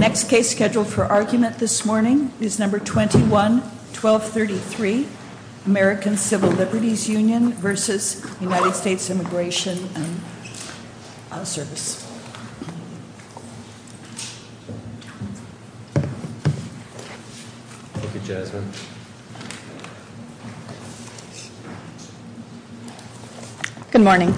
Service, please. The next case scheduled for argument this morning is number 21-1233, American Civil Liberties Union v. United States Immigration Service. Dr.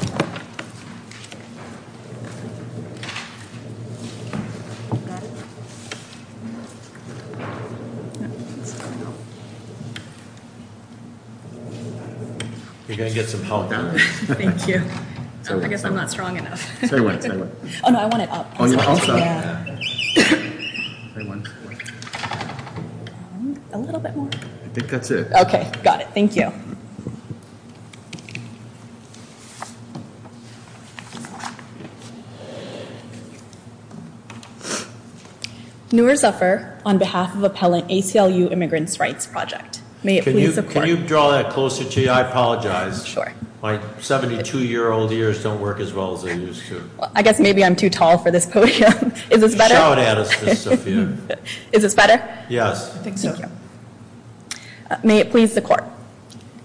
Noor Zafar, on behalf of the ACLU Immigrants' Rights Project, may it please support you. Can you draw that closer to you? I apologize. Sure. My 72-year-old ears don't work as well as they used to. I guess maybe I'm too tall for this podium. Is this better? You should show it at us, Ms. Sophia. Is this better? Yes. I think so. Thank you. May it please the Court.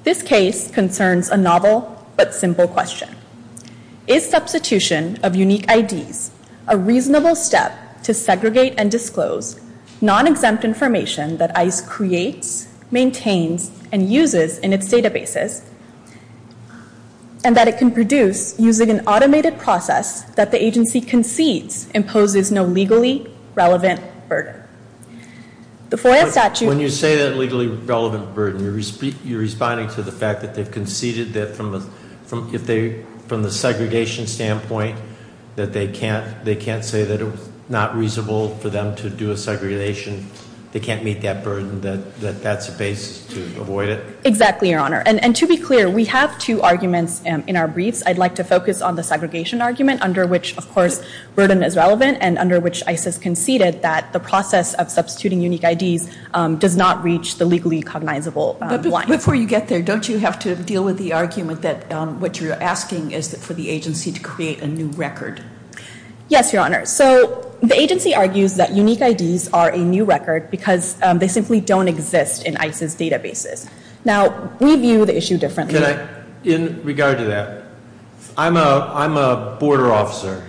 This case concerns a novel but simple question. Is substitution of unique IDs a reasonable step to segregate and disclose non-exempt information that ICE creates, maintains, and uses in its databases, and that it can produce using an automated process that the agency concedes imposes no legally relevant burden? The FOIA statute- When you say that legally relevant burden, you're responding to the fact that they've conceded that from the segregation standpoint, that they can't say that it was not reasonable for them to do a segregation. They can't meet that burden, that that's a basis to avoid it? Exactly, Your Honor. And to be clear, we have two arguments in our briefs. I'd like to focus on the segregation argument, under which, of course, burden is relevant, and under which ICE has conceded that the process of substituting unique IDs does not reach the legally cognizable line. Before you get there, don't you have to deal with the argument that what you're asking is for the agency to create a new record? Yes, Your Honor. So the agency argues that unique IDs are a new record because they simply don't exist in ICE's databases. Now we view the issue differently. In regard to that, I'm a border officer,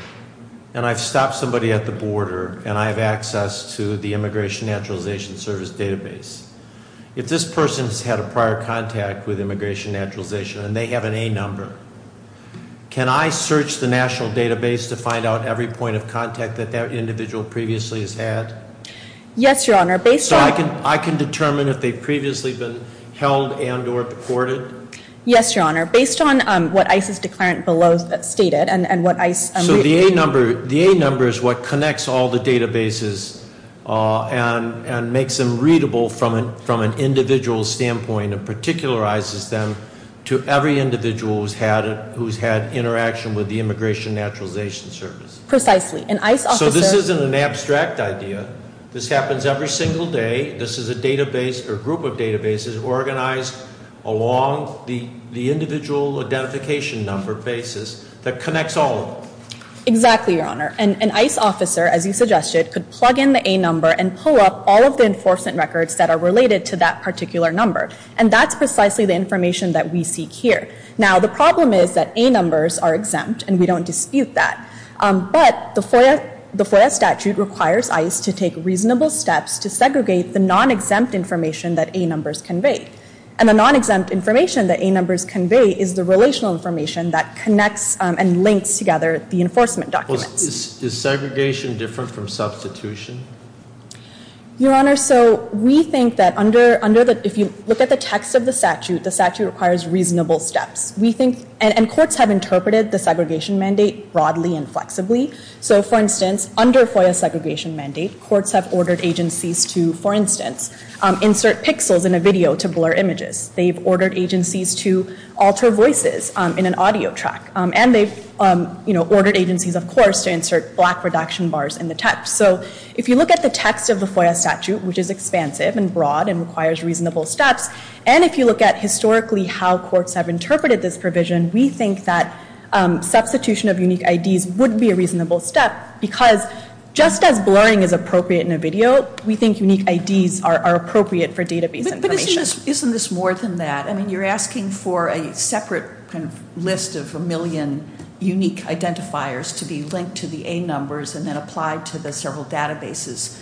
and I've stopped somebody at the border, and I have access to the Immigration Naturalization Service database. If this person's had a prior contact with Immigration Naturalization, and they have an A number, can I search the national database to find out every point of contact that that individual previously has had? Yes, Your Honor, based on- Yes, Your Honor, based on what ICE's declarant below stated, and what ICE- So the A number is what connects all the databases and makes them readable from an individual standpoint, and particularizes them to every individual who's had interaction with the Immigration Naturalization Service. Precisely, an ICE officer- So this isn't an abstract idea. This happens every single day. This is a database, or group of databases, organized along the individual identification number basis that connects all of them. Exactly, Your Honor. An ICE officer, as you suggested, could plug in the A number and pull up all of the enforcement records that are related to that particular number. And that's precisely the information that we seek here. Now the problem is that A numbers are exempt, and we don't dispute that. But the FOIA statute requires ICE to take reasonable steps to segregate the non-exempt information that A numbers convey. And the non-exempt information that A numbers convey is the relational information that connects and links together the enforcement documents. Is segregation different from substitution? Your Honor, so we think that under the, if you look at the text of the statute, the statute requires reasonable steps. We think, and courts have interpreted the segregation mandate broadly and flexibly. So for instance, under FOIA segregation mandate, courts have ordered agencies to, for instance, insert pixels in a video to blur images. They've ordered agencies to alter voices in an audio track. And they've ordered agencies, of course, to insert black reduction bars in the text. So if you look at the text of the FOIA statute, which is expansive and broad and requires reasonable steps. And if you look at historically how courts have interpreted this provision, we think that substitution of unique IDs would be a reasonable step. Because just as blurring is appropriate in a video, we think unique IDs are appropriate for database information. Isn't this more than that? I mean, you're asking for a separate kind of list of a million unique identifiers to be linked to the A numbers and then applied to the several databases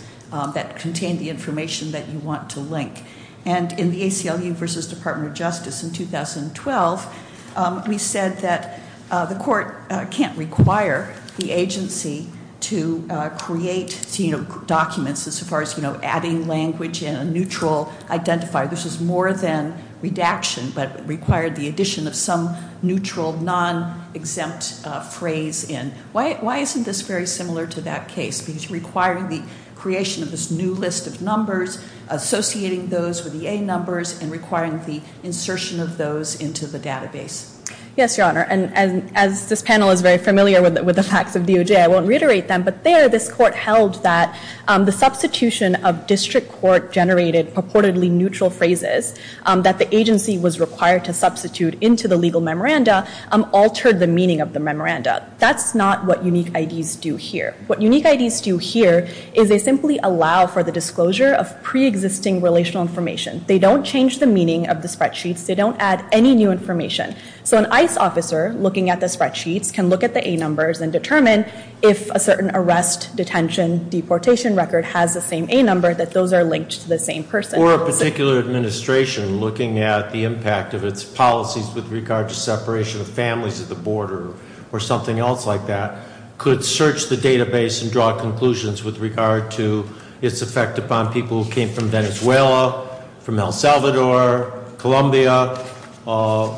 that contain the information that you want to link. And in the ACLU versus Department of Justice in 2012, we said that the court can't require the agency to create documents as far as adding language in a neutral identifier. This is more than redaction, but required the addition of some neutral, non-exempt phrase in. Why isn't this very similar to that case? Because requiring the creation of this new list of numbers, associating those with the A numbers, and requiring the insertion of those into the database. Yes, your honor, and as this panel is very familiar with the facts of DOJ, I won't reiterate them. But there, this court held that the substitution of district court generated purportedly neutral phrases that the agency was required to substitute into the legal memoranda altered the meaning of the memoranda. That's not what unique IDs do here. What unique IDs do here is they simply allow for the disclosure of pre-existing relational information. They don't change the meaning of the spreadsheets. They don't add any new information. So an ICE officer looking at the spreadsheets can look at the A numbers and determine if a certain arrest, detention, deportation record has the same A number that those are linked to the same person. Or a particular administration looking at the impact of its policies with regard to separation of families at the border or something else like that could search the database and draw conclusions with regard to its effect upon people who came from Venezuela, from El Salvador, Colombia,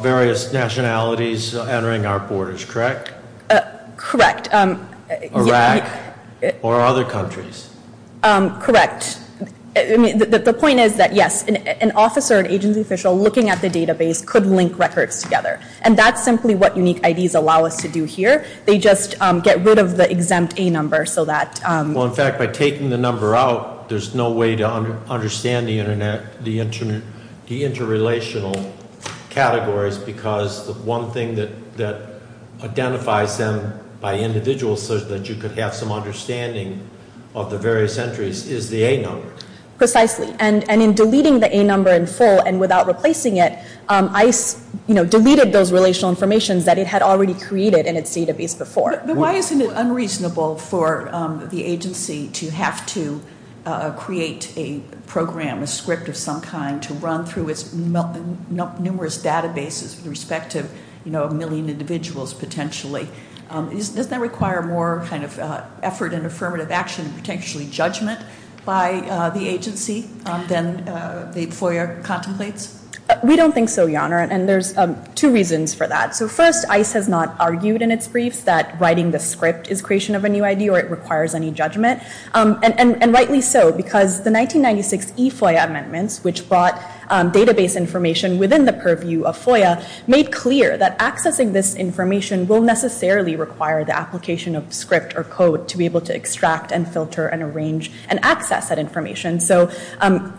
various nationalities entering our borders, correct? Correct. Iraq or other countries. Correct. The point is that yes, an officer, an agency official looking at the database could link records together. And that's simply what unique IDs allow us to do here. They just get rid of the exempt A number so that- Well, in fact, by taking the number out, there's no way to understand the interrelational categories because the one thing that identifies them by individuals so that you could have some understanding of the various entries is the A number. Precisely, and in deleting the A number in full and without replacing it, ICE deleted those relational information that it had already created in its database before. But why isn't it unreasonable for the agency to have to create a program, a script of some kind to run through its numerous databases with respect to a million individuals potentially? Doesn't that require more kind of effort and affirmative action and potentially judgment by the agency than the FOIA contemplates? We don't think so, Jana, and there's two reasons for that. So first, ICE has not argued in its briefs that writing the script is creation of a new ID or it requires any judgment. And rightly so, because the 1996 E-FOIA amendments, which brought database information within the purview of FOIA, made clear that accessing this information will necessarily require the application of script or code to be able to extract and filter and arrange and access that information. So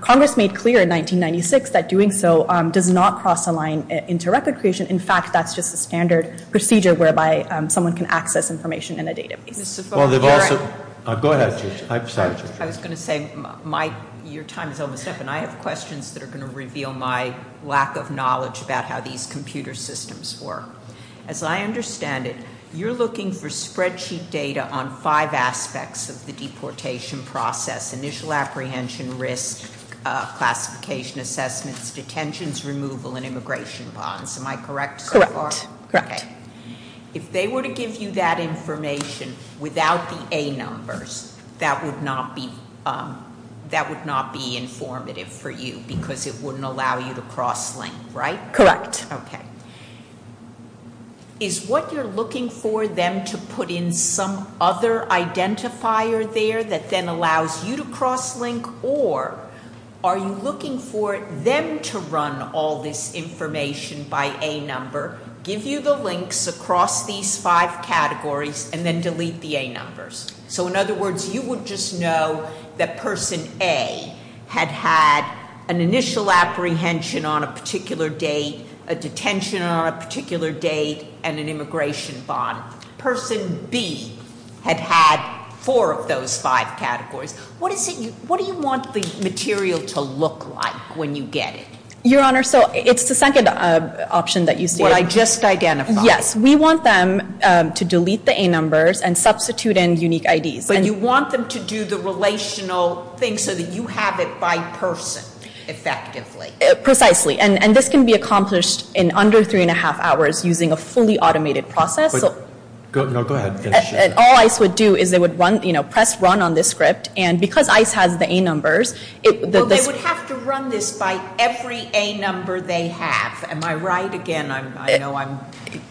Congress made clear in 1996 that doing so does not cross a line into record creation. In fact, that's just a standard procedure whereby someone can access information in a database. Well, they've also- Go ahead, Judge. I'm sorry, Judge. I was going to say, your time is almost up, and I have questions that are going to reveal my lack of knowledge about how these computer systems work. As I understand it, you're looking for spreadsheet data on five aspects of the deportation process. Initial apprehension, risk, classification assessments, detentions, removal, and immigration bonds. Am I correct so far? Correct, correct. If they were to give you that information without the A numbers, that would not be informative for you, because it wouldn't allow you to cross-link, right? Correct. Okay. Is what you're looking for them to put in some other identifier there that then allows you to cross-link? Or are you looking for them to run all this information by A number, give you the links across these five categories, and then delete the A numbers? So in other words, you would just know that person A had had an initial apprehension on a particular date, a detention on a particular date, and an immigration bond. Person B had had four of those five categories. What do you want the material to look like when you get it? Your Honor, so it's the second option that you see. What I just identified. Yes, we want them to delete the A numbers and substitute in unique IDs. But you want them to do the relational thing so that you have it by person, effectively. Precisely, and this can be accomplished in under three and a half hours using a fully automated process. No, go ahead. All ICE would do is they would press run on this script, and because ICE has the A numbers. Well, they would have to run this by every A number they have. Am I right? Again, I know I'm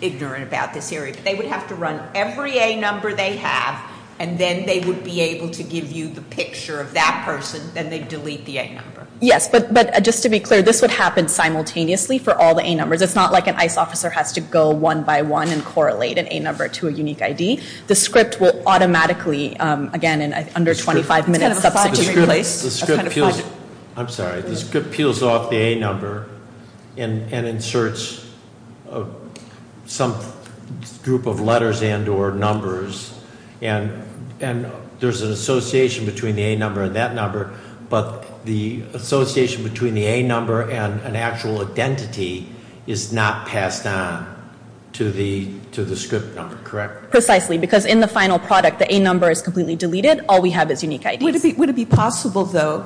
ignorant about this area. They would have to run every A number they have, and then they would be able to give you the picture of that person, then they'd delete the A number. Yes, but just to be clear, this would happen simultaneously for all the A numbers. It's not like an ICE officer has to go one by one and correlate an A number to a unique ID. The script will automatically, again, in under 25 minutes, substitute and replace. That's kind of fun. I'm sorry, the script peels off the A number and inserts some group of letters and or numbers. And there's an association between the A number and that number. But the association between the A number and an actual identity is not passed on to the script number, correct? Precisely, because in the final product, the A number is completely deleted. All we have is unique IDs. Would it be possible, though,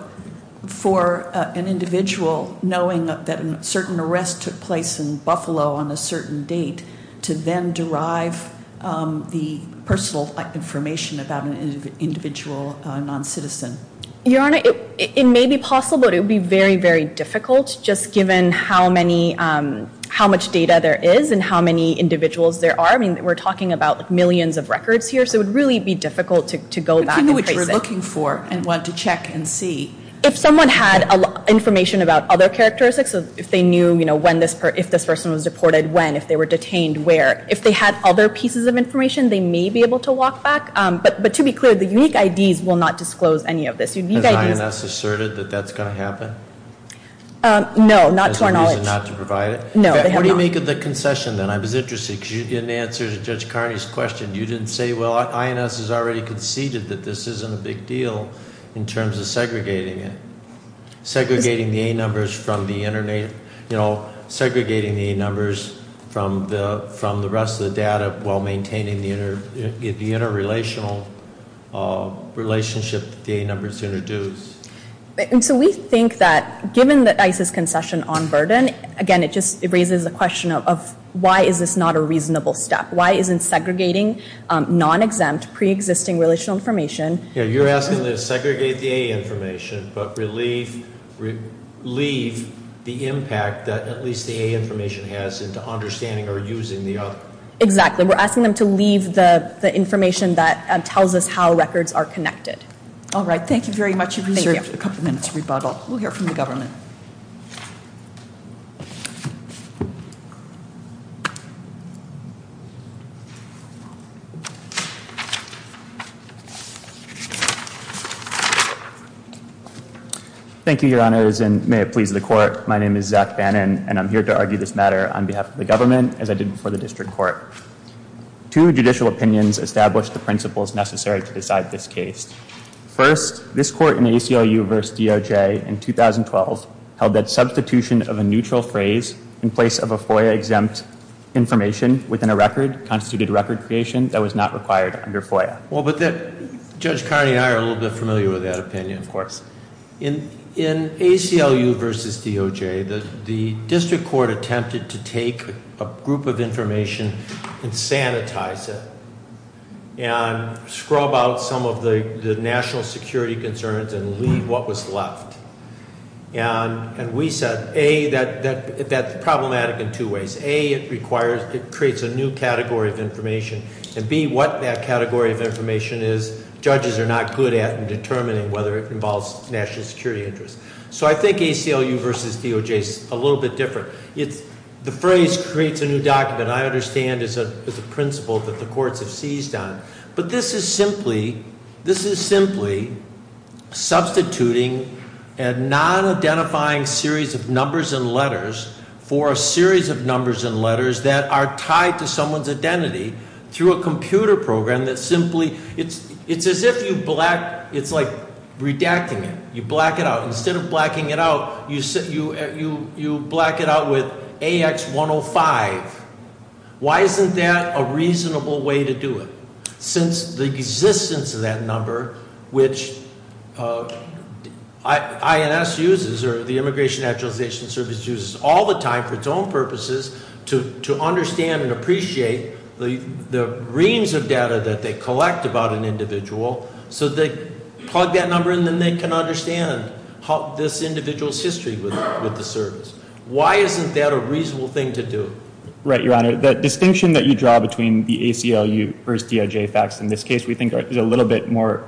for an individual, knowing that a certain arrest took place in Buffalo on a certain date, to then derive the personal information about an individual non-citizen? Your Honor, it may be possible, but it would be very, very difficult, just given how much data there is and how many individuals there are. I mean, we're talking about millions of records here, so it would really be difficult to go back and trace it. But to know what you're looking for and want to check and see. If someone had information about other characteristics, so if they knew when this person was deported, when, if they were detained, where. If they had other pieces of information, they may be able to walk back. But to be clear, the unique IDs will not disclose any of this. Unique IDs- Has INS asserted that that's going to happen? No, not to our knowledge. As a reason not to provide it? No, they have not. What do you make of the concession, then? I was interested, because you didn't answer Judge Carney's question. You didn't say, well, INS has already conceded that this isn't a big deal in terms of segregating it. Segregating the A numbers from the rest of the data while maintaining the interrelationship. The interrelational relationship that the A numbers introduce. And so we think that, given that ICE's concession on burden, again, it just raises the question of why is this not a reasonable step? Why isn't segregating non-exempt, pre-existing relational information- Yeah, you're asking them to segregate the A information, but relieve the impact that at least the A information has into understanding or using the other. Exactly, we're asking them to leave the information that tells us how records are connected. All right, thank you very much. You've reserved a couple minutes for rebuttal. We'll hear from the government. Thank you, your honors, and may it please the court. My name is Zach Bannon, and I'm here to argue this matter on behalf of the government as I did before the district court. Two judicial opinions established the principles necessary to decide this case. First, this court in ACLU versus DOJ in 2012 held that substitution of a neutral phrase in place of a FOIA-exempt information within a record constituted record creation that was not required under FOIA. Well, but Judge Carney and I are a little bit familiar with that opinion, of course. In ACLU versus DOJ, the district court attempted to take a group of information and sanitize it, and scrub out some of the national security concerns and leave what was left. And we said, A, that's problematic in two ways. A, it requires, it creates a new category of information, and B, what that category of information is, and whether it involves national security interests. So I think ACLU versus DOJ is a little bit different. The phrase creates a new document, I understand, is a principle that the courts have seized on. But this is simply substituting a non-identifying series of numbers and letters for a series of numbers and letters that are tied to someone's identity through a computer program that simply, it's as if you black, it's like redacting it. You black it out. Instead of blacking it out, you black it out with AX 105. Why isn't that a reasonable way to do it? Since the existence of that number, which INS uses, or the Immigration Actualization Service uses all the time for its own purposes to understand and the range of data that they collect about an individual, so they plug that number in, then they can understand this individual's history with the service. Why isn't that a reasonable thing to do? Right, Your Honor, the distinction that you draw between the ACLU versus DOJ facts in this case, we think is a little bit more,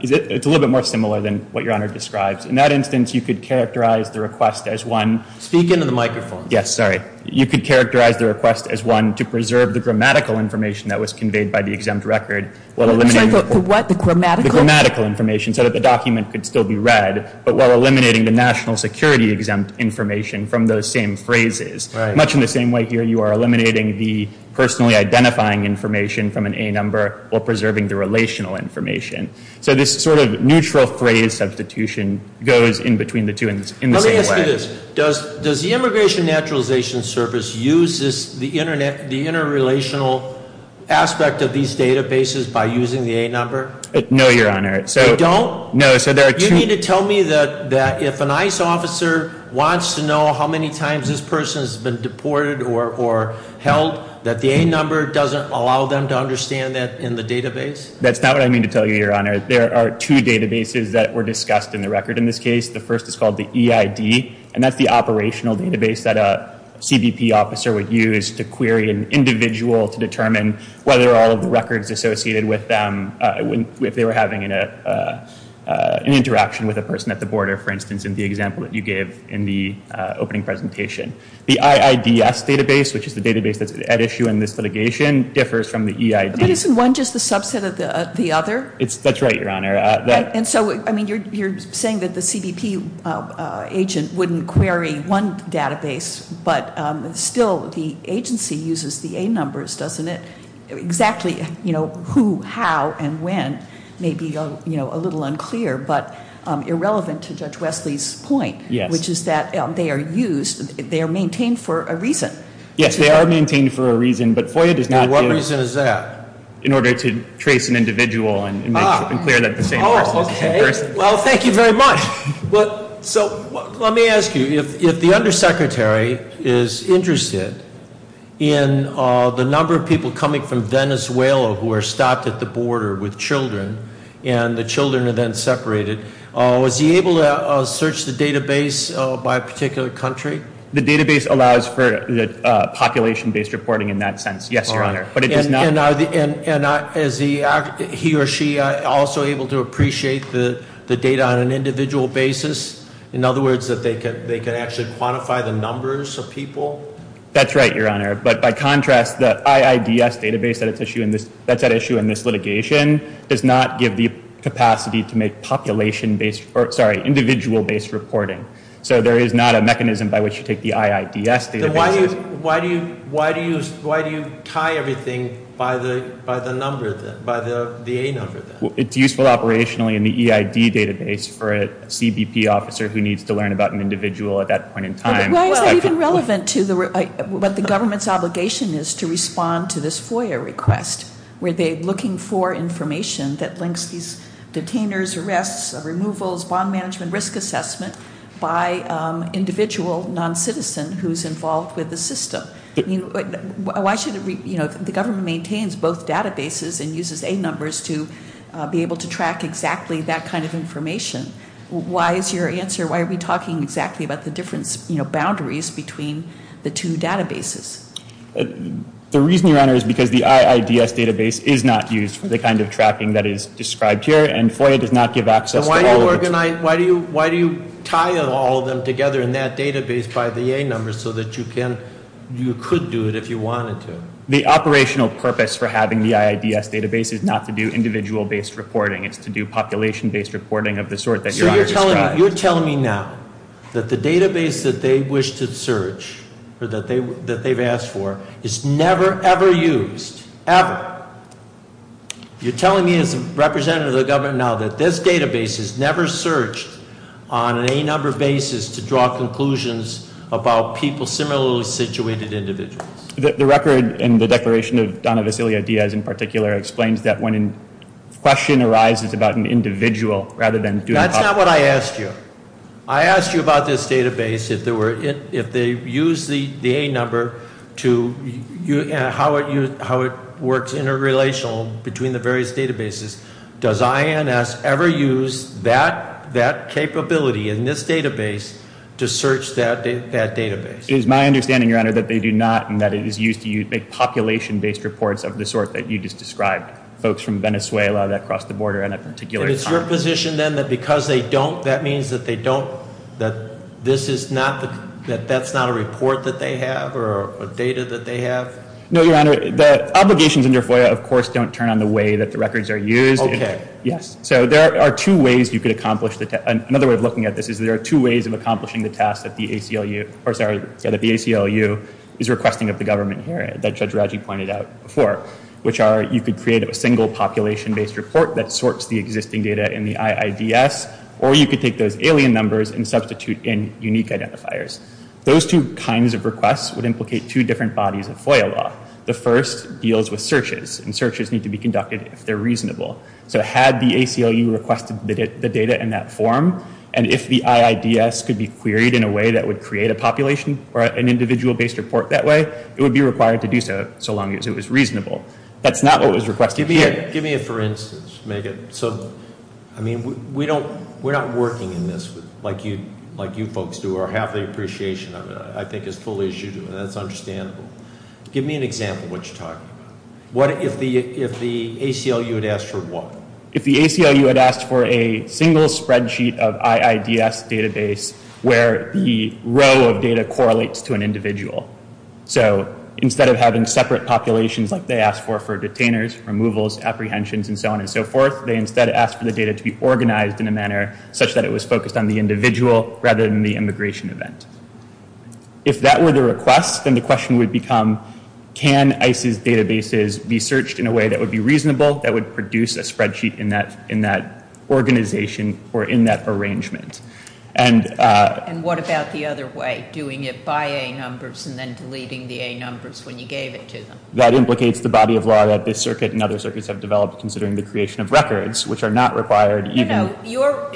it's a little bit more similar than what Your Honor describes. In that instance, you could characterize the request as one- Speak into the microphone. Yes, sorry. You could characterize the request as one to preserve the grammatical information that was conveyed by the exempt record, while eliminating- I'm sorry, for what, the grammatical? The grammatical information, so that the document could still be read, but while eliminating the national security exempt information from those same phrases. Much in the same way here, you are eliminating the personally identifying information from an A number, while preserving the relational information. So this sort of neutral phrase substitution goes in between the two in the same way. Let me ask you this, does the Immigration Naturalization Service use the interrelational aspect of these databases by using the A number? No, Your Honor. They don't? No, so there are two- You need to tell me that if an ICE officer wants to know how many times this person has been deported or held, that the A number doesn't allow them to understand that in the database? That's not what I mean to tell you, Your Honor. There are two databases that were discussed in the record in this case. The first is called the EID, and that's the operational database that a CBP officer would use to query an individual to determine whether all of the records associated with them, if they were having an interaction with a person at the border, for instance, in the example that you gave in the opening presentation. The IIDS database, which is the database that's at issue in this litigation, differs from the EID. But isn't one just a subset of the other? That's right, Your Honor. And so, I mean, you're saying that the CBP agent wouldn't query one database, but still the agency uses the A numbers, doesn't it? Exactly who, how, and when may be a little unclear, but irrelevant to Judge Wesley's point, which is that they are used, they are maintained for a reason. Yes, they are maintained for a reason, but FOIA does not give- And what reason is that? In order to trace an individual and make it clear that the same person is the same person. Well, thank you very much. So, let me ask you, if the undersecretary is interested in the number of people coming from Venezuela who are stopped at the border with children, and the children are then separated, was he able to search the database by a particular country? The database allows for the population-based reporting in that sense, yes, Your Honor. And is he or she also able to appreciate the data on an individual basis? In other words, that they could actually quantify the numbers of people? That's right, Your Honor, but by contrast, the IIDS database that's at issue in this litigation does not give the capacity to make population-based, or sorry, individual-based reporting. So there is not a mechanism by which you take the IIDS database- Why do you tie everything by the number then, by the A number then? It's useful operationally in the EID database for a CBP officer who needs to learn about an individual at that point in time. Why is that even relevant to what the government's obligation is to respond to this FOIA request? Were they looking for information that links these detainers, arrests, removals, bond management, risk assessment by individual non-citizen who's involved with the system? Why should the government maintains both databases and uses A numbers to be able to track exactly that kind of information? Why is your answer, why are we talking exactly about the difference boundaries between the two databases? The reason, Your Honor, is because the IIDS database is not used for the kind of tracking that is described here, and FOIA does not give access to all of it. Why do you tie all of them together in that database by the A numbers so that you could do it if you wanted to? The operational purpose for having the IIDS database is not to do individual-based reporting. It's to do population-based reporting of the sort that Your Honor described. You're telling me now that the database that they wish to search, or that they've asked for, is never, ever used, ever? You're telling me as a representative of the government now that this database is never searched on an A number basis to draw conclusions about people, similarly situated individuals. The record in the declaration of Donna Vasilio Diaz, in particular, explains that when a question arises about an individual rather than doing- That's not what I asked you. I asked you about this database, if they use the A number, how it works inter-relational between the various databases. Does INS ever use that capability in this database to search that database? It is my understanding, Your Honor, that they do not, and that it is used to make population-based reports of the sort that you just described. Folks from Venezuela that cross the border at a particular time. And it's your position then that because they don't, that means that they don't, that this is not, that that's not a report that they have, or a data that they have? No, Your Honor, the obligations in your FOIA, of course, don't turn on the way that the records are used. Okay. Yes, so there are two ways you could accomplish, another way of looking at this is there are two ways of accomplishing the task that the ACLU, or sorry, that the ACLU is requesting of the government here, that Judge Raji pointed out before. Which are, you could create a single population-based report that sorts the existing data in the IIDS, or you could take those alien numbers and substitute in unique identifiers. Those two kinds of requests would implicate two different bodies of FOIA law. The first deals with searches, and searches need to be conducted if they're reasonable. So had the ACLU requested the data in that form, and if the IIDS could be queried in a way that would create a population, or an individual-based report that way, it would be required to do so, so long as it was reasonable. That's not what was requested here. Give me a for instance, Megan. So, I mean, we don't, we're not working in this like you folks do, or have the appreciation of it, I think, as fully as you do, and that's understandable. Give me an example of what you're talking about. What if the ACLU had asked for what? If the ACLU had asked for a single spreadsheet of IIDS database where the row of data correlates to an individual. So, instead of having separate populations like they asked for, for detainers, removals, apprehensions, and so on and so forth, they instead asked for the data to be organized in a manner such that it was focused on the individual, rather than the immigration event. If that were the request, then the question would become, can ICE's databases be searched in a way that would be reasonable, that would produce a spreadsheet in that organization, or in that arrangement? And- And what about the other way, doing it by A numbers and then deleting the A numbers when you gave it to them? That implicates the body of law that this circuit and other circuits have developed considering the creation of records, which are not required even- No, no,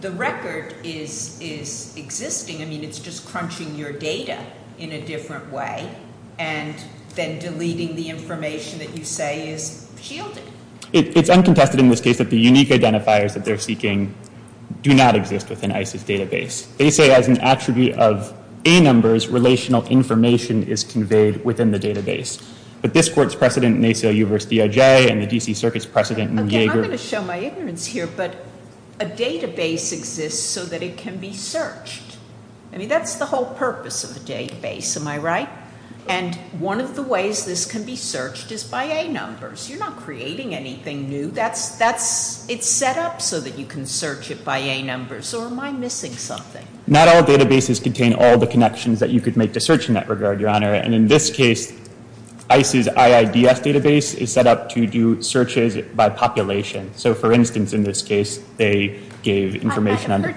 the record is existing. I mean, it's just crunching your data in a different way, and then deleting the information that you say is shielded. It's uncontested in this case that the unique identifiers that they're seeking do not exist within ICE's database. They say as an attribute of A numbers, relational information is conveyed within the database. But this court's precedent in ACLU versus DOJ, and the DC Circuit's precedent in the DA group- Okay, I'm going to show my ignorance here, but a database exists so that it can be searched. I mean, that's the whole purpose of a database, am I right? And one of the ways this can be searched is by A numbers. You're not creating anything new. That's, it's set up so that you can search it by A numbers, or am I missing something? Not all databases contain all the connections that you could make to search in that regard, your honor. And in this case, ICE's IIDF database is set up to do searches by population. So for instance, in this case, they gave information on- If you have a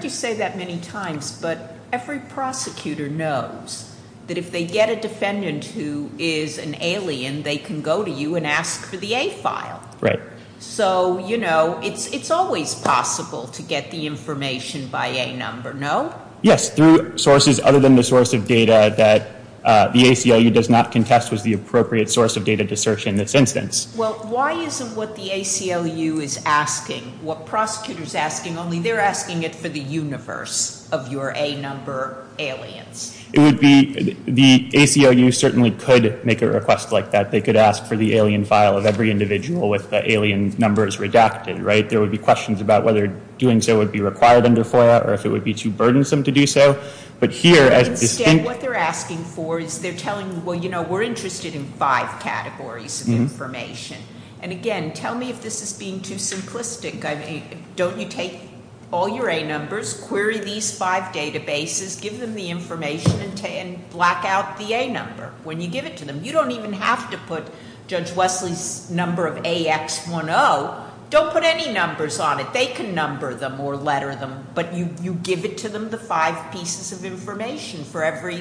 defendant who is an alien, they can go to you and ask for the A file. Right. So, you know, it's always possible to get the information by A number, no? Yes, through sources other than the source of data that the ACLU does not contest was the appropriate source of data to search in this instance. Well, why isn't what the ACLU is asking, what prosecutor's asking, only they're asking it for the universe of your A number aliens? It would be, the ACLU certainly could make a request like that. They could ask for the alien file of every individual with the alien numbers redacted, right? There would be questions about whether doing so would be required under FOIA, or if it would be too burdensome to do so. But here, as distinct- Instead, what they're asking for is they're telling, well, you know, we're interested in five categories of information. And again, tell me if this is being too simplistic. Don't you take all your A numbers, query these five databases, give them the information, and black out the A number when you give it to them. You don't even have to put Judge Wesley's number of AX10. Don't put any numbers on it. They can number them or letter them, but you give it to them, the five pieces of information for every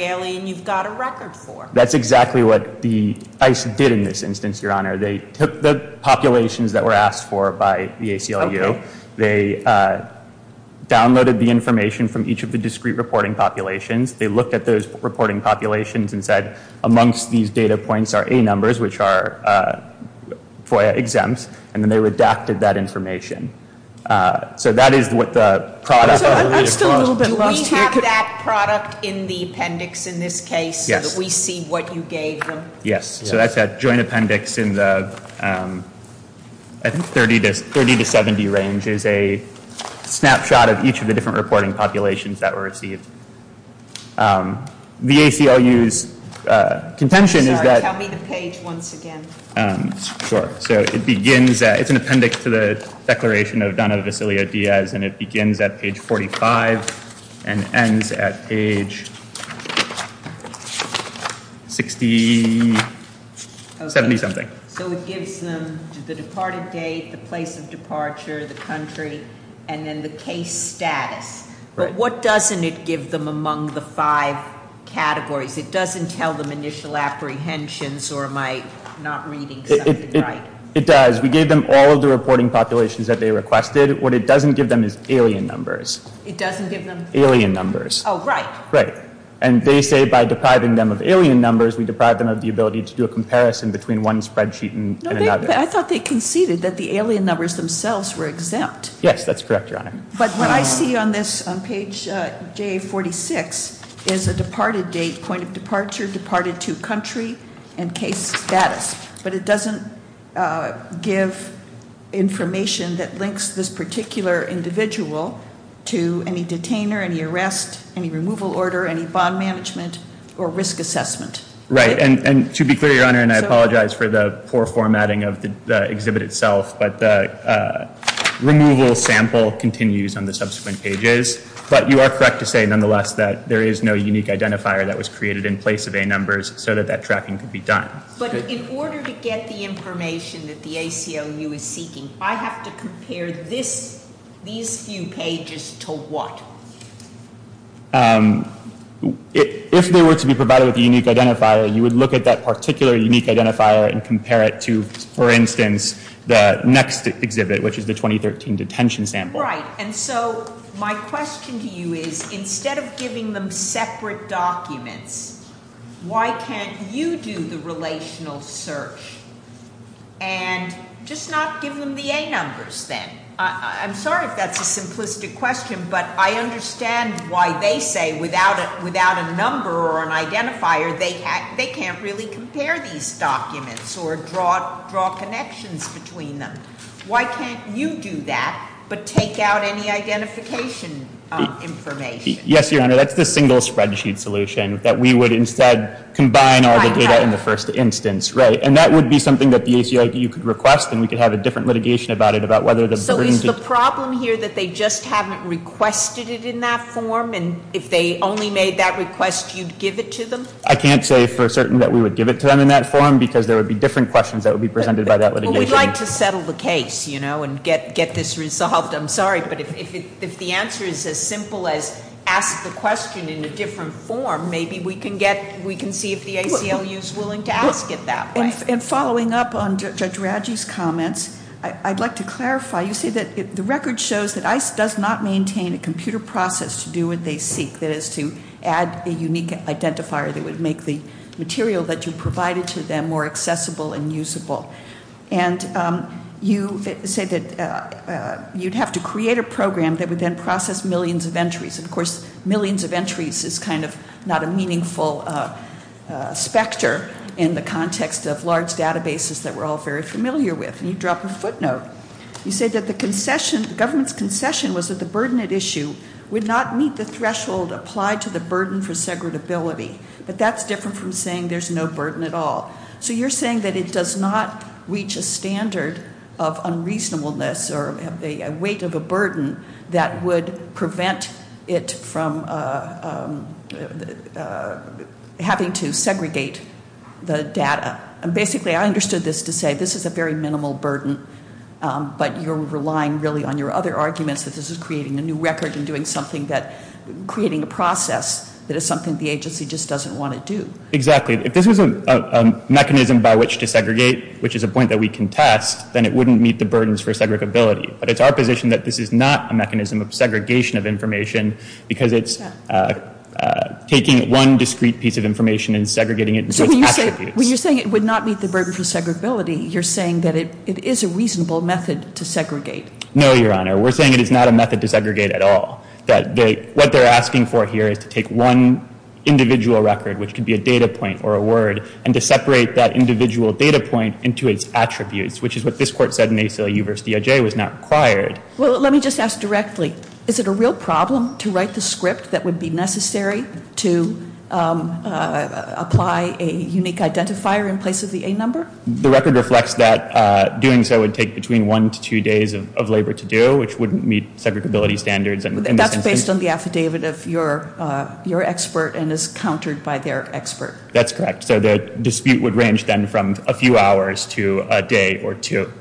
alien you've got a record for. That's exactly what the ICE did in this instance, Your Honor. They took the populations that were asked for by the ACLU. They downloaded the information from each of the discrete reporting populations. They looked at those reporting populations and said, amongst these data points are A numbers, which are FOIA exempts. And then they redacted that information. So that is what the product- So I'm still a little bit lost here. Do we have that product in the appendix in this case, so that we see what you gave them? Yes, so that's that joint appendix in the, I think, 30 to 70 range is a snapshot of each of the different reporting populations that were received. The ACLU's contention is that- Sorry, tell me the page once again. Sure, so it begins, it's an appendix to the declaration of Donna Vasilio Diaz, and it begins at page 45 and ends at page 60, 70 something. So it gives them the departed date, the place of departure, the country, and then the case status. But what doesn't it give them among the five categories? It doesn't tell them initial apprehensions, or am I not reading something right? It does. We gave them all of the reporting populations that they requested. What it doesn't give them is alien numbers. It doesn't give them- Alien numbers. Right. Right. And they say by depriving them of alien numbers, we deprive them of the ability to do a comparison between one spreadsheet and another. I thought they conceded that the alien numbers themselves were exempt. Yes, that's correct, Your Honor. But what I see on this, on page J46, is a departed date, point of departure, departed to country, and case status. But it doesn't give information that links this particular individual to any detainer, any arrest, any removal order, any bond management, or risk assessment. Right, and to be clear, Your Honor, and I apologize for the poor formatting of the exhibit itself, but the removal sample continues on the subsequent pages. But you are correct to say, nonetheless, that there is no unique identifier that was created in place of A numbers so that that tracking could be done. But in order to get the information that the ACLU is seeking, I have to compare these few pages to what? If they were to be provided with a unique identifier, you would look at that particular unique identifier and compare it to, for instance, the next exhibit, which is the 2013 detention sample. Right, and so my question to you is, instead of giving them separate documents, why can't you do the relational search and just not give them the A numbers then? I'm sorry if that's a simplistic question, but I understand why they say without a number or an identifier, they can't really compare these documents or draw connections between them. Why can't you do that, but take out any identification information? Yes, Your Honor, that's the single spreadsheet solution, that we would instead combine all the data in the first instance. Right, and that would be something that the ACLU could request, and we could have a different litigation about it, about whether the burden- So is the problem here that they just haven't requested it in that form, and if they only made that request, you'd give it to them? I can't say for certain that we would give it to them in that form, because there would be different questions that would be presented by that litigation. We'd like to settle the case, you know, and get this resolved. I'm sorry, but if the answer is as simple as ask the question in a different form, maybe we can see if the ACLU's willing to ask it that way. And following up on Judge Radji's comments, I'd like to clarify. You say that the record shows that ICE does not maintain a computer process to do what they seek, that is to add a unique identifier that would make the material that you provided to them more accessible and usable. And you say that you'd have to create a program that would then process millions of entries. And of course, millions of entries is kind of not a meaningful specter in the context of large databases that we're all very familiar with, and you drop a footnote. You say that the government's concession was that the burden at issue would not meet the threshold applied to the burden for segregability. But that's different from saying there's no burden at all. So you're saying that it does not reach a standard of unreasonableness or a weight of a burden that would prevent it from having to segregate the data. And basically, I understood this to say, this is a very minimal burden, but you're relying really on your other arguments that this is creating a new record and doing something that, creating a process that is something the agency just doesn't want to do. Exactly. If this was a mechanism by which to segregate, which is a point that we can test, then it wouldn't meet the burdens for segregability. But it's our position that this is not a mechanism of segregation of information, because it's taking one discreet piece of information and segregating it into its attributes. When you're saying it would not meet the burden for segregability, you're saying that it is a reasonable method to segregate. No, Your Honor. We're saying it is not a method to segregate at all. That what they're asking for here is to take one individual record, which could be a data point or a word, and to separate that individual data point into its attributes, which is what this court said in ACLU versus DOJ was not required. Well, let me just ask directly. Is it a real problem to write the script that would be necessary to apply a unique identifier in place of the A number? The record reflects that doing so would take between one to two days of labor to do, which wouldn't meet segregability standards. And that's based on the affidavit of your expert and is countered by their expert. That's correct. So the dispute would range then from a few hours to a day or two.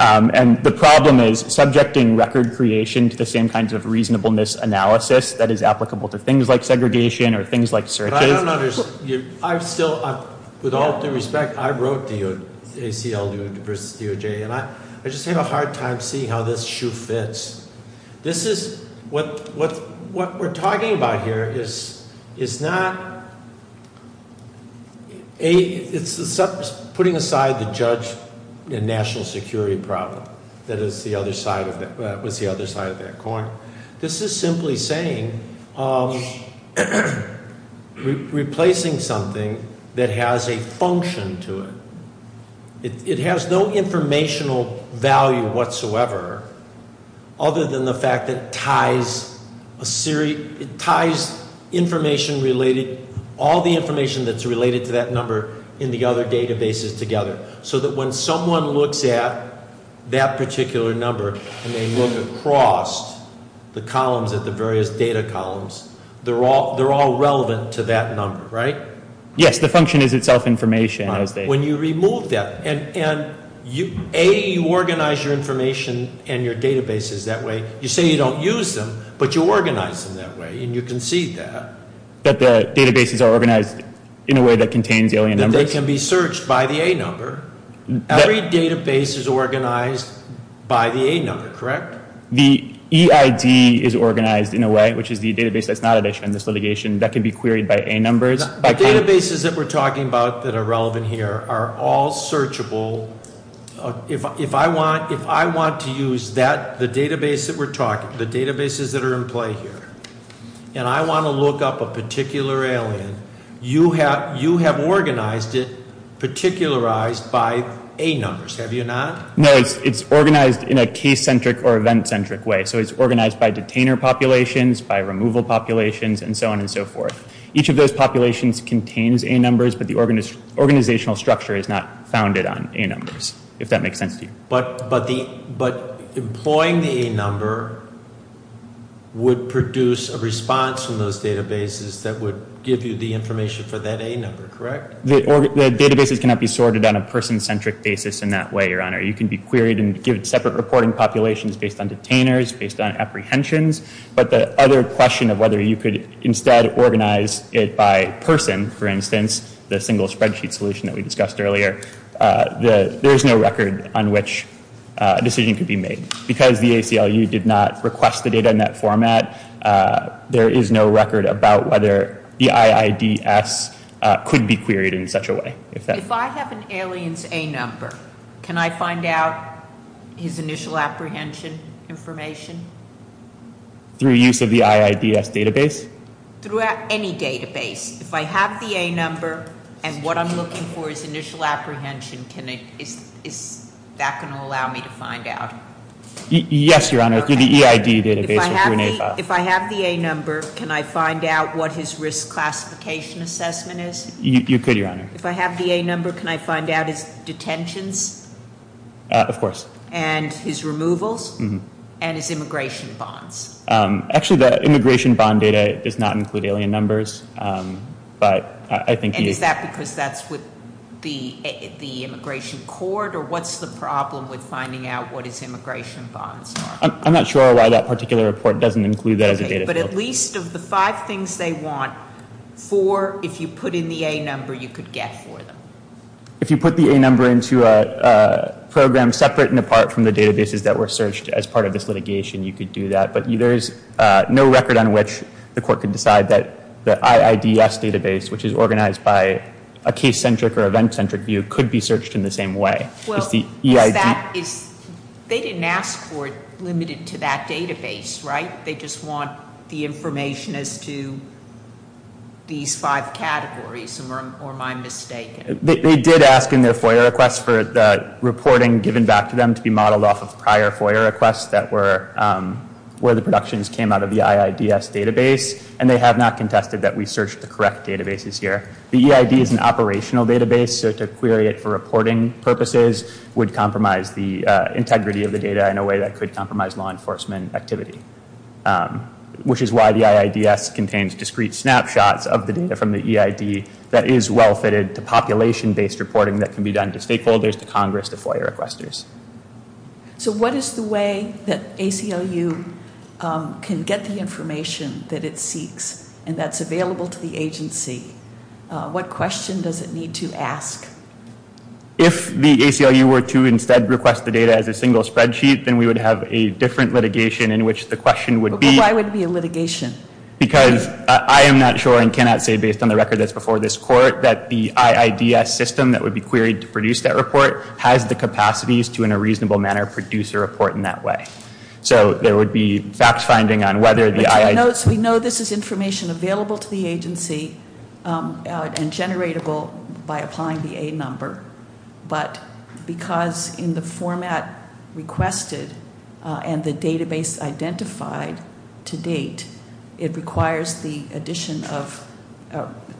And the problem is subjecting record creation to the same kinds of reasonableness analysis that is applicable to things like segregation or things like searches. I don't know. I've still, with all due respect, I wrote the ACLU versus DOJ. And I just had a hard time seeing how this shoe fits. This is, what we're talking about here is not, it's putting aside the judge and national security problem. That is the other side of that coin. This is simply saying, replacing something that has a function to it. It has no informational value whatsoever, other than the fact that it ties information related, all the information that's related to that number in the other databases together. So that when someone looks at that particular number, and they look across the columns at the various data columns, they're all relevant to that number, right? Yes, the function is itself information. When you remove that, and A, you organize your information and your databases that way. You say you don't use them, but you organize them that way, and you concede that. That the databases are organized in a way that contains alien numbers? That they can be searched by the A number. Every database is organized by the A number, correct? The EID is organized in a way, which is the database that's not in this litigation, that can be queried by A numbers. The databases that we're talking about that are relevant here are all searchable. If I want to use the databases that are in play here, and I want to look up a particular alien, you have organized it, particularized by A numbers, have you not? No, it's organized in a case-centric or event-centric way. So it's organized by detainer populations, by removal populations, and so on and so forth. Each of those populations contains A numbers, but the organizational structure is not founded on A numbers, if that makes sense to you. But employing the A number would produce a response from those databases that would give you the information for that A number, correct? The databases cannot be sorted on a person-centric basis in that way, your honor. You can be queried and give separate reporting populations based on detainers, based on apprehensions. But the other question of whether you could instead organize it by person, for instance, the single spreadsheet solution that we discussed earlier, there's no record on which a decision could be made. Because the ACLU did not request the data in that format, there is no record about whether the IIDS could be queried in such a way. If I have an alien's A number, can I find out his initial apprehension information? Through use of the IIDS database? Through any database. If I have the A number, and what I'm looking for is initial apprehension, is that going to allow me to find out? Yes, your honor, through the EID database or through an A file. If I have the A number, can I find out what his risk classification assessment is? You could, your honor. If I have the A number, can I find out his detentions? Of course. And his removals? Mm-hm. And his immigration bonds? Actually, the immigration bond data does not include alien numbers, but I think you- And is that because that's with the immigration court, or what's the problem with finding out what his immigration bonds are? I'm not sure why that particular report doesn't include that as a data field. Okay, but at least of the five things they want, four, if you put in the A number, you could get for them. If you put the A number into a program separate and apart from the databases that were searched as part of this litigation, you could do that. But there's no record on which the court could decide that the IIDS database, which is organized by a case-centric or event-centric view, could be searched in the same way. It's the EID- Well, is that, they didn't ask for it limited to that database, right? They just want the information as to these five categories, or am I mistaken? They did ask in their FOIA request for the reporting given back to them to be modeled off of prior FOIA requests that were where the productions came out of the IIDS database, and they have not contested that we searched the correct databases here. The EID is an operational database, so to query it for reporting purposes would compromise the integrity of the data in a way that could compromise law enforcement activity, which is why the IIDS contains discrete snapshots of the data from the EID that is well-fitted to population-based reporting that can be done to stakeholders, to Congress, to FOIA requesters. So what is the way that ACLU can get the information that it seeks and that's available to the agency? What question does it need to ask? If the ACLU were to instead request the data as a single spreadsheet, then we would have a different litigation in which the question would be- But why would it be a litigation? Because I am not sure and cannot say based on the record that's before this court that the IIDS system that would be queried to produce that report has the capacities to, in a reasonable manner, produce a report in that way. So there would be fact finding on whether the IIDS- So we know this is information available to the agency and generatable by applying the A number, but because in the format requested and the database identified to date, it requires the addition of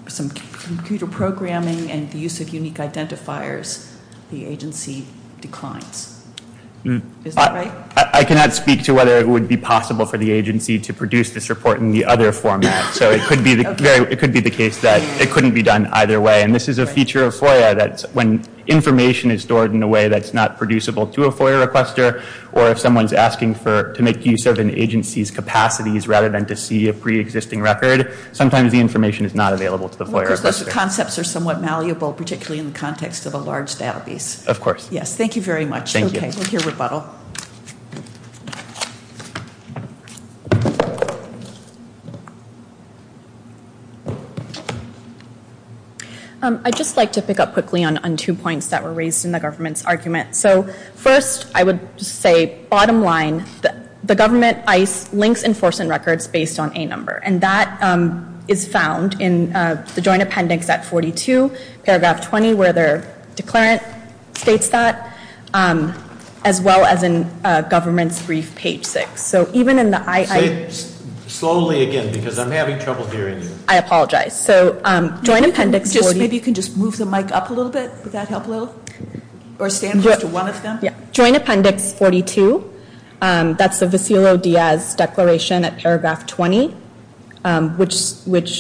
some computer programming and the use of unique identifiers, the agency declines. Is that right? I cannot speak to whether it would be possible for the agency to produce this report in the other format. So it could be the case that it couldn't be done either way. And this is a feature of FOIA that when information is stored in a way that's not producible to a FOIA requester, or if someone's asking to make use of an agency's capacities rather than to see a pre-existing record, sometimes the information is not available to the FOIA requester. Because those concepts are somewhat malleable, particularly in the context of a large database. Of course. Yes, thank you very much. Thank you. Okay, we'll hear rebuttal. I'd just like to pick up quickly on two points that were raised in the government's argument. So first, I would say bottom line, the government links enforcement records based on A number. And that is found in the joint appendix at 42, paragraph 20, where their declarant states that, as well as in government's brief, page 6. So even in the I- Say it slowly again, because I'm having trouble hearing you. I apologize. So joint appendix 40- Maybe you can just move the mic up a little bit. Would that help a little? Or stand close to one of them? Yeah. Joint appendix 42, that's the Vassilo-Diaz declaration at paragraph 20, which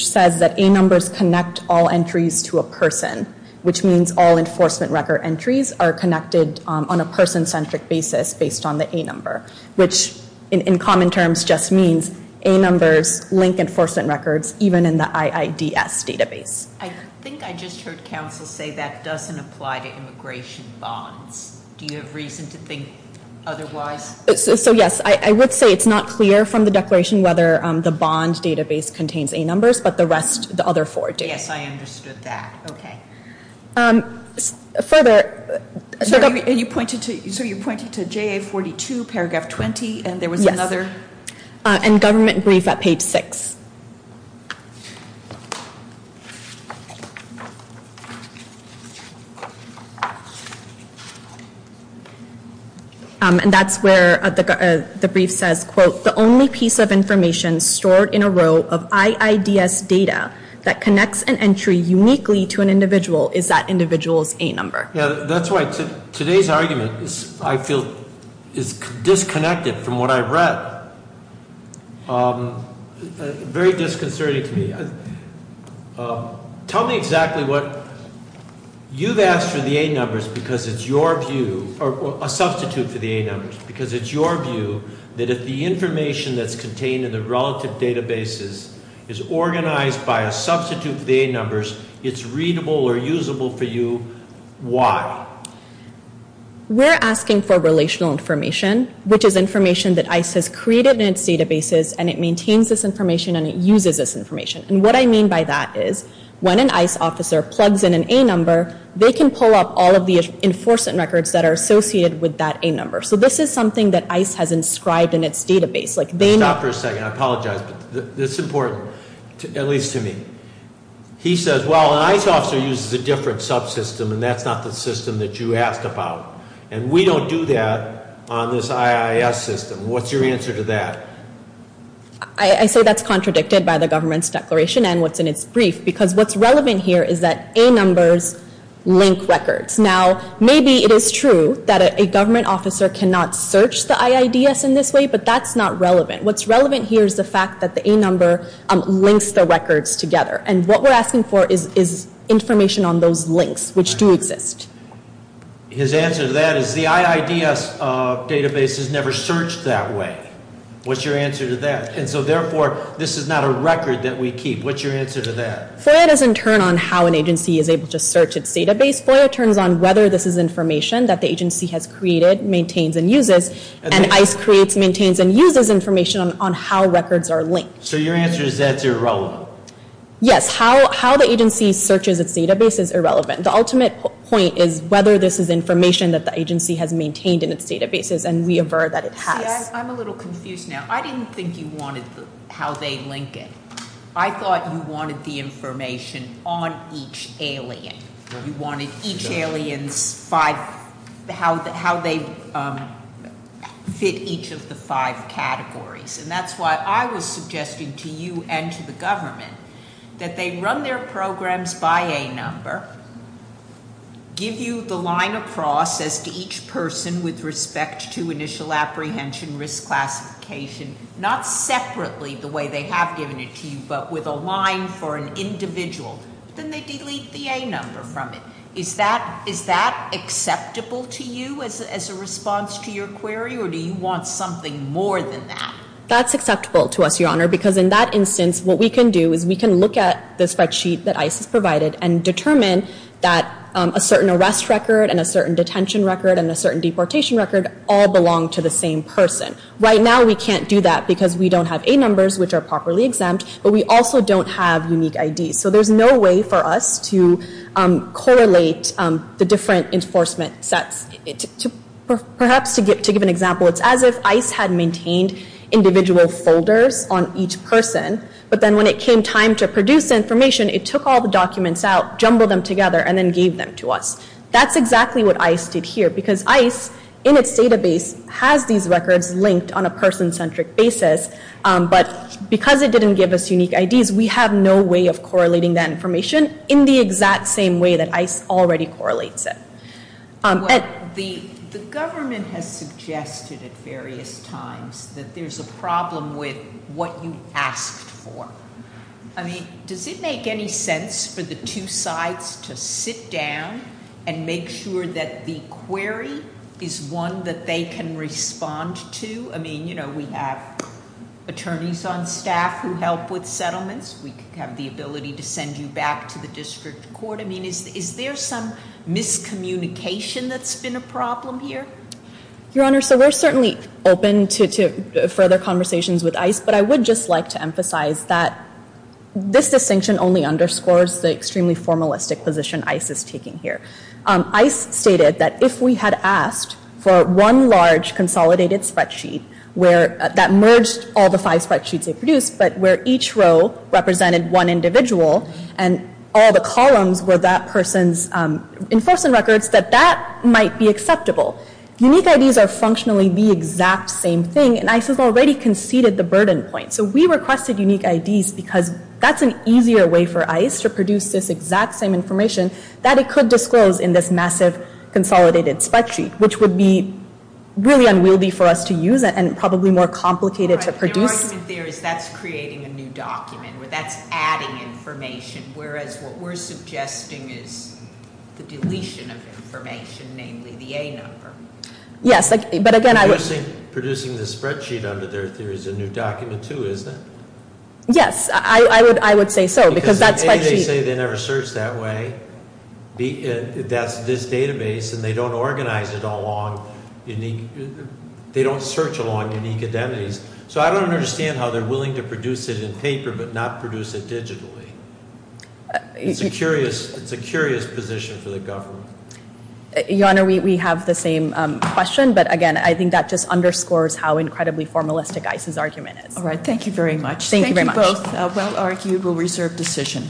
says that A numbers connect all entries to a person, which means all enforcement record entries are connected on a person-centric basis based on the A number. Which, in common terms, just means A numbers link enforcement records, even in the IIDS database. I think I just heard counsel say that doesn't apply to immigration bonds. Do you have reason to think otherwise? So yes, I would say it's not clear from the declaration whether the bond database contains A numbers, but the rest, the other four do. Yes, I understood that. Okay. Further- So you're pointing to JA 42, paragraph 20, and there was another- Yes, and government brief at page 6. And that's where the brief says, quote, the only piece of information stored in a row of IIDS data that connects an entry uniquely to an individual is that individual's A number. Yeah, that's why today's argument, I feel, is disconnected from what I've read. But, very disconcerting to me. Tell me exactly what, you've asked for the A numbers because it's your view, or a substitute for the A numbers. Because it's your view that if the information that's contained in the relative databases is organized by a substitute for the A numbers, it's readable or usable for you. Why? Why? We're asking for relational information, which is information that ICE has created in its databases, and it maintains this information, and it uses this information. And what I mean by that is, when an ICE officer plugs in an A number, they can pull up all of the enforcement records that are associated with that A number. So this is something that ICE has inscribed in its database. Like they know- Stop for a second, I apologize, but it's important, at least to me. He says, well, an ICE officer uses a different subsystem, and that's not the system that you asked about. And we don't do that on this IIS system. What's your answer to that? I say that's contradicted by the government's declaration and what's in its brief, because what's relevant here is that A numbers link records. Now, maybe it is true that a government officer cannot search the IIDS in this way, but that's not relevant. What's relevant here is the fact that the A number links the records together. And what we're asking for is information on those links, which do exist. His answer to that is the IIDS database has never searched that way. What's your answer to that? And so therefore, this is not a record that we keep. What's your answer to that? FOIA doesn't turn on how an agency is able to search its database. FOIA turns on whether this is information that the agency has created, maintains, and uses. And ICE creates, maintains, and uses information on how records are linked. So your answer is that's irrelevant? Yes, how the agency searches its database is irrelevant. The ultimate point is whether this is information that the agency has maintained in its databases, and we aver that it has. I'm a little confused now. I didn't think you wanted how they link it. I thought you wanted the information on each alien. You wanted each alien's five, how they fit each of the five categories. And that's why I was suggesting to you and to the government that they run their programs by A number, give you the line of process to each person with respect to initial apprehension, risk classification, not separately the way they have given it to you, but with a line for an individual. Then they delete the A number from it. Is that acceptable to you as a response to your query, or do you want something more than that? That's acceptable to us, Your Honor, because in that instance, what we can do is we can look at the spreadsheet that ICE has provided and determine that a certain arrest record and a certain detention record and a certain deportation record all belong to the same person. Right now, we can't do that because we don't have A numbers, which are properly exempt, but we also don't have unique IDs. So there's no way for us to correlate the different enforcement sets. Perhaps to give an example, it's as if ICE had maintained individual folders on each person, but then when it came time to produce information, it took all the documents out, jumbled them together, and then gave them to us. That's exactly what ICE did here, because ICE, in its database, has these records linked on a person-centric basis. But because it didn't give us unique IDs, we have no way of correlating that information in the exact same way that ICE already correlates it. The government has suggested at various times that there's a problem with what you asked for. I mean, does it make any sense for the two sides to sit down and make sure that the query is one that they can respond to? I mean, we have attorneys on staff who help with settlements. We have the ability to send you back to the district court. I mean, is there some miscommunication that's been a problem here? Your Honor, so we're certainly open to further conversations with ICE, but I would just like to emphasize that this distinction only underscores the extremely formalistic position ICE is taking here. ICE stated that if we had asked for one large consolidated spreadsheet that merged all the five spreadsheets they produced, but where each row represented one individual and all the columns were that person's enforcement records, that that might be acceptable. Unique IDs are functionally the exact same thing, and ICE has already conceded the burden point. So we requested unique IDs because that's an easier way for that it could disclose in this massive consolidated spreadsheet, which would be really unwieldy for us to use and probably more complicated to produce. Your argument there is that's creating a new document, or that's adding information, whereas what we're suggesting is the deletion of information, namely the A number. Yes, but again I would- Producing the spreadsheet under their theory is a new document too, isn't it? Yes, I would say so, because that spreadsheet- That's this database, and they don't organize it all along unique, they don't search along unique identities. So I don't understand how they're willing to produce it in paper, but not produce it digitally. It's a curious position for the government. Your Honor, we have the same question, but again, I think that just underscores how incredibly formalistic ICE's argument is. All right, thank you very much. Thank you very much. Thank you both. Well argued, we'll reserve decision.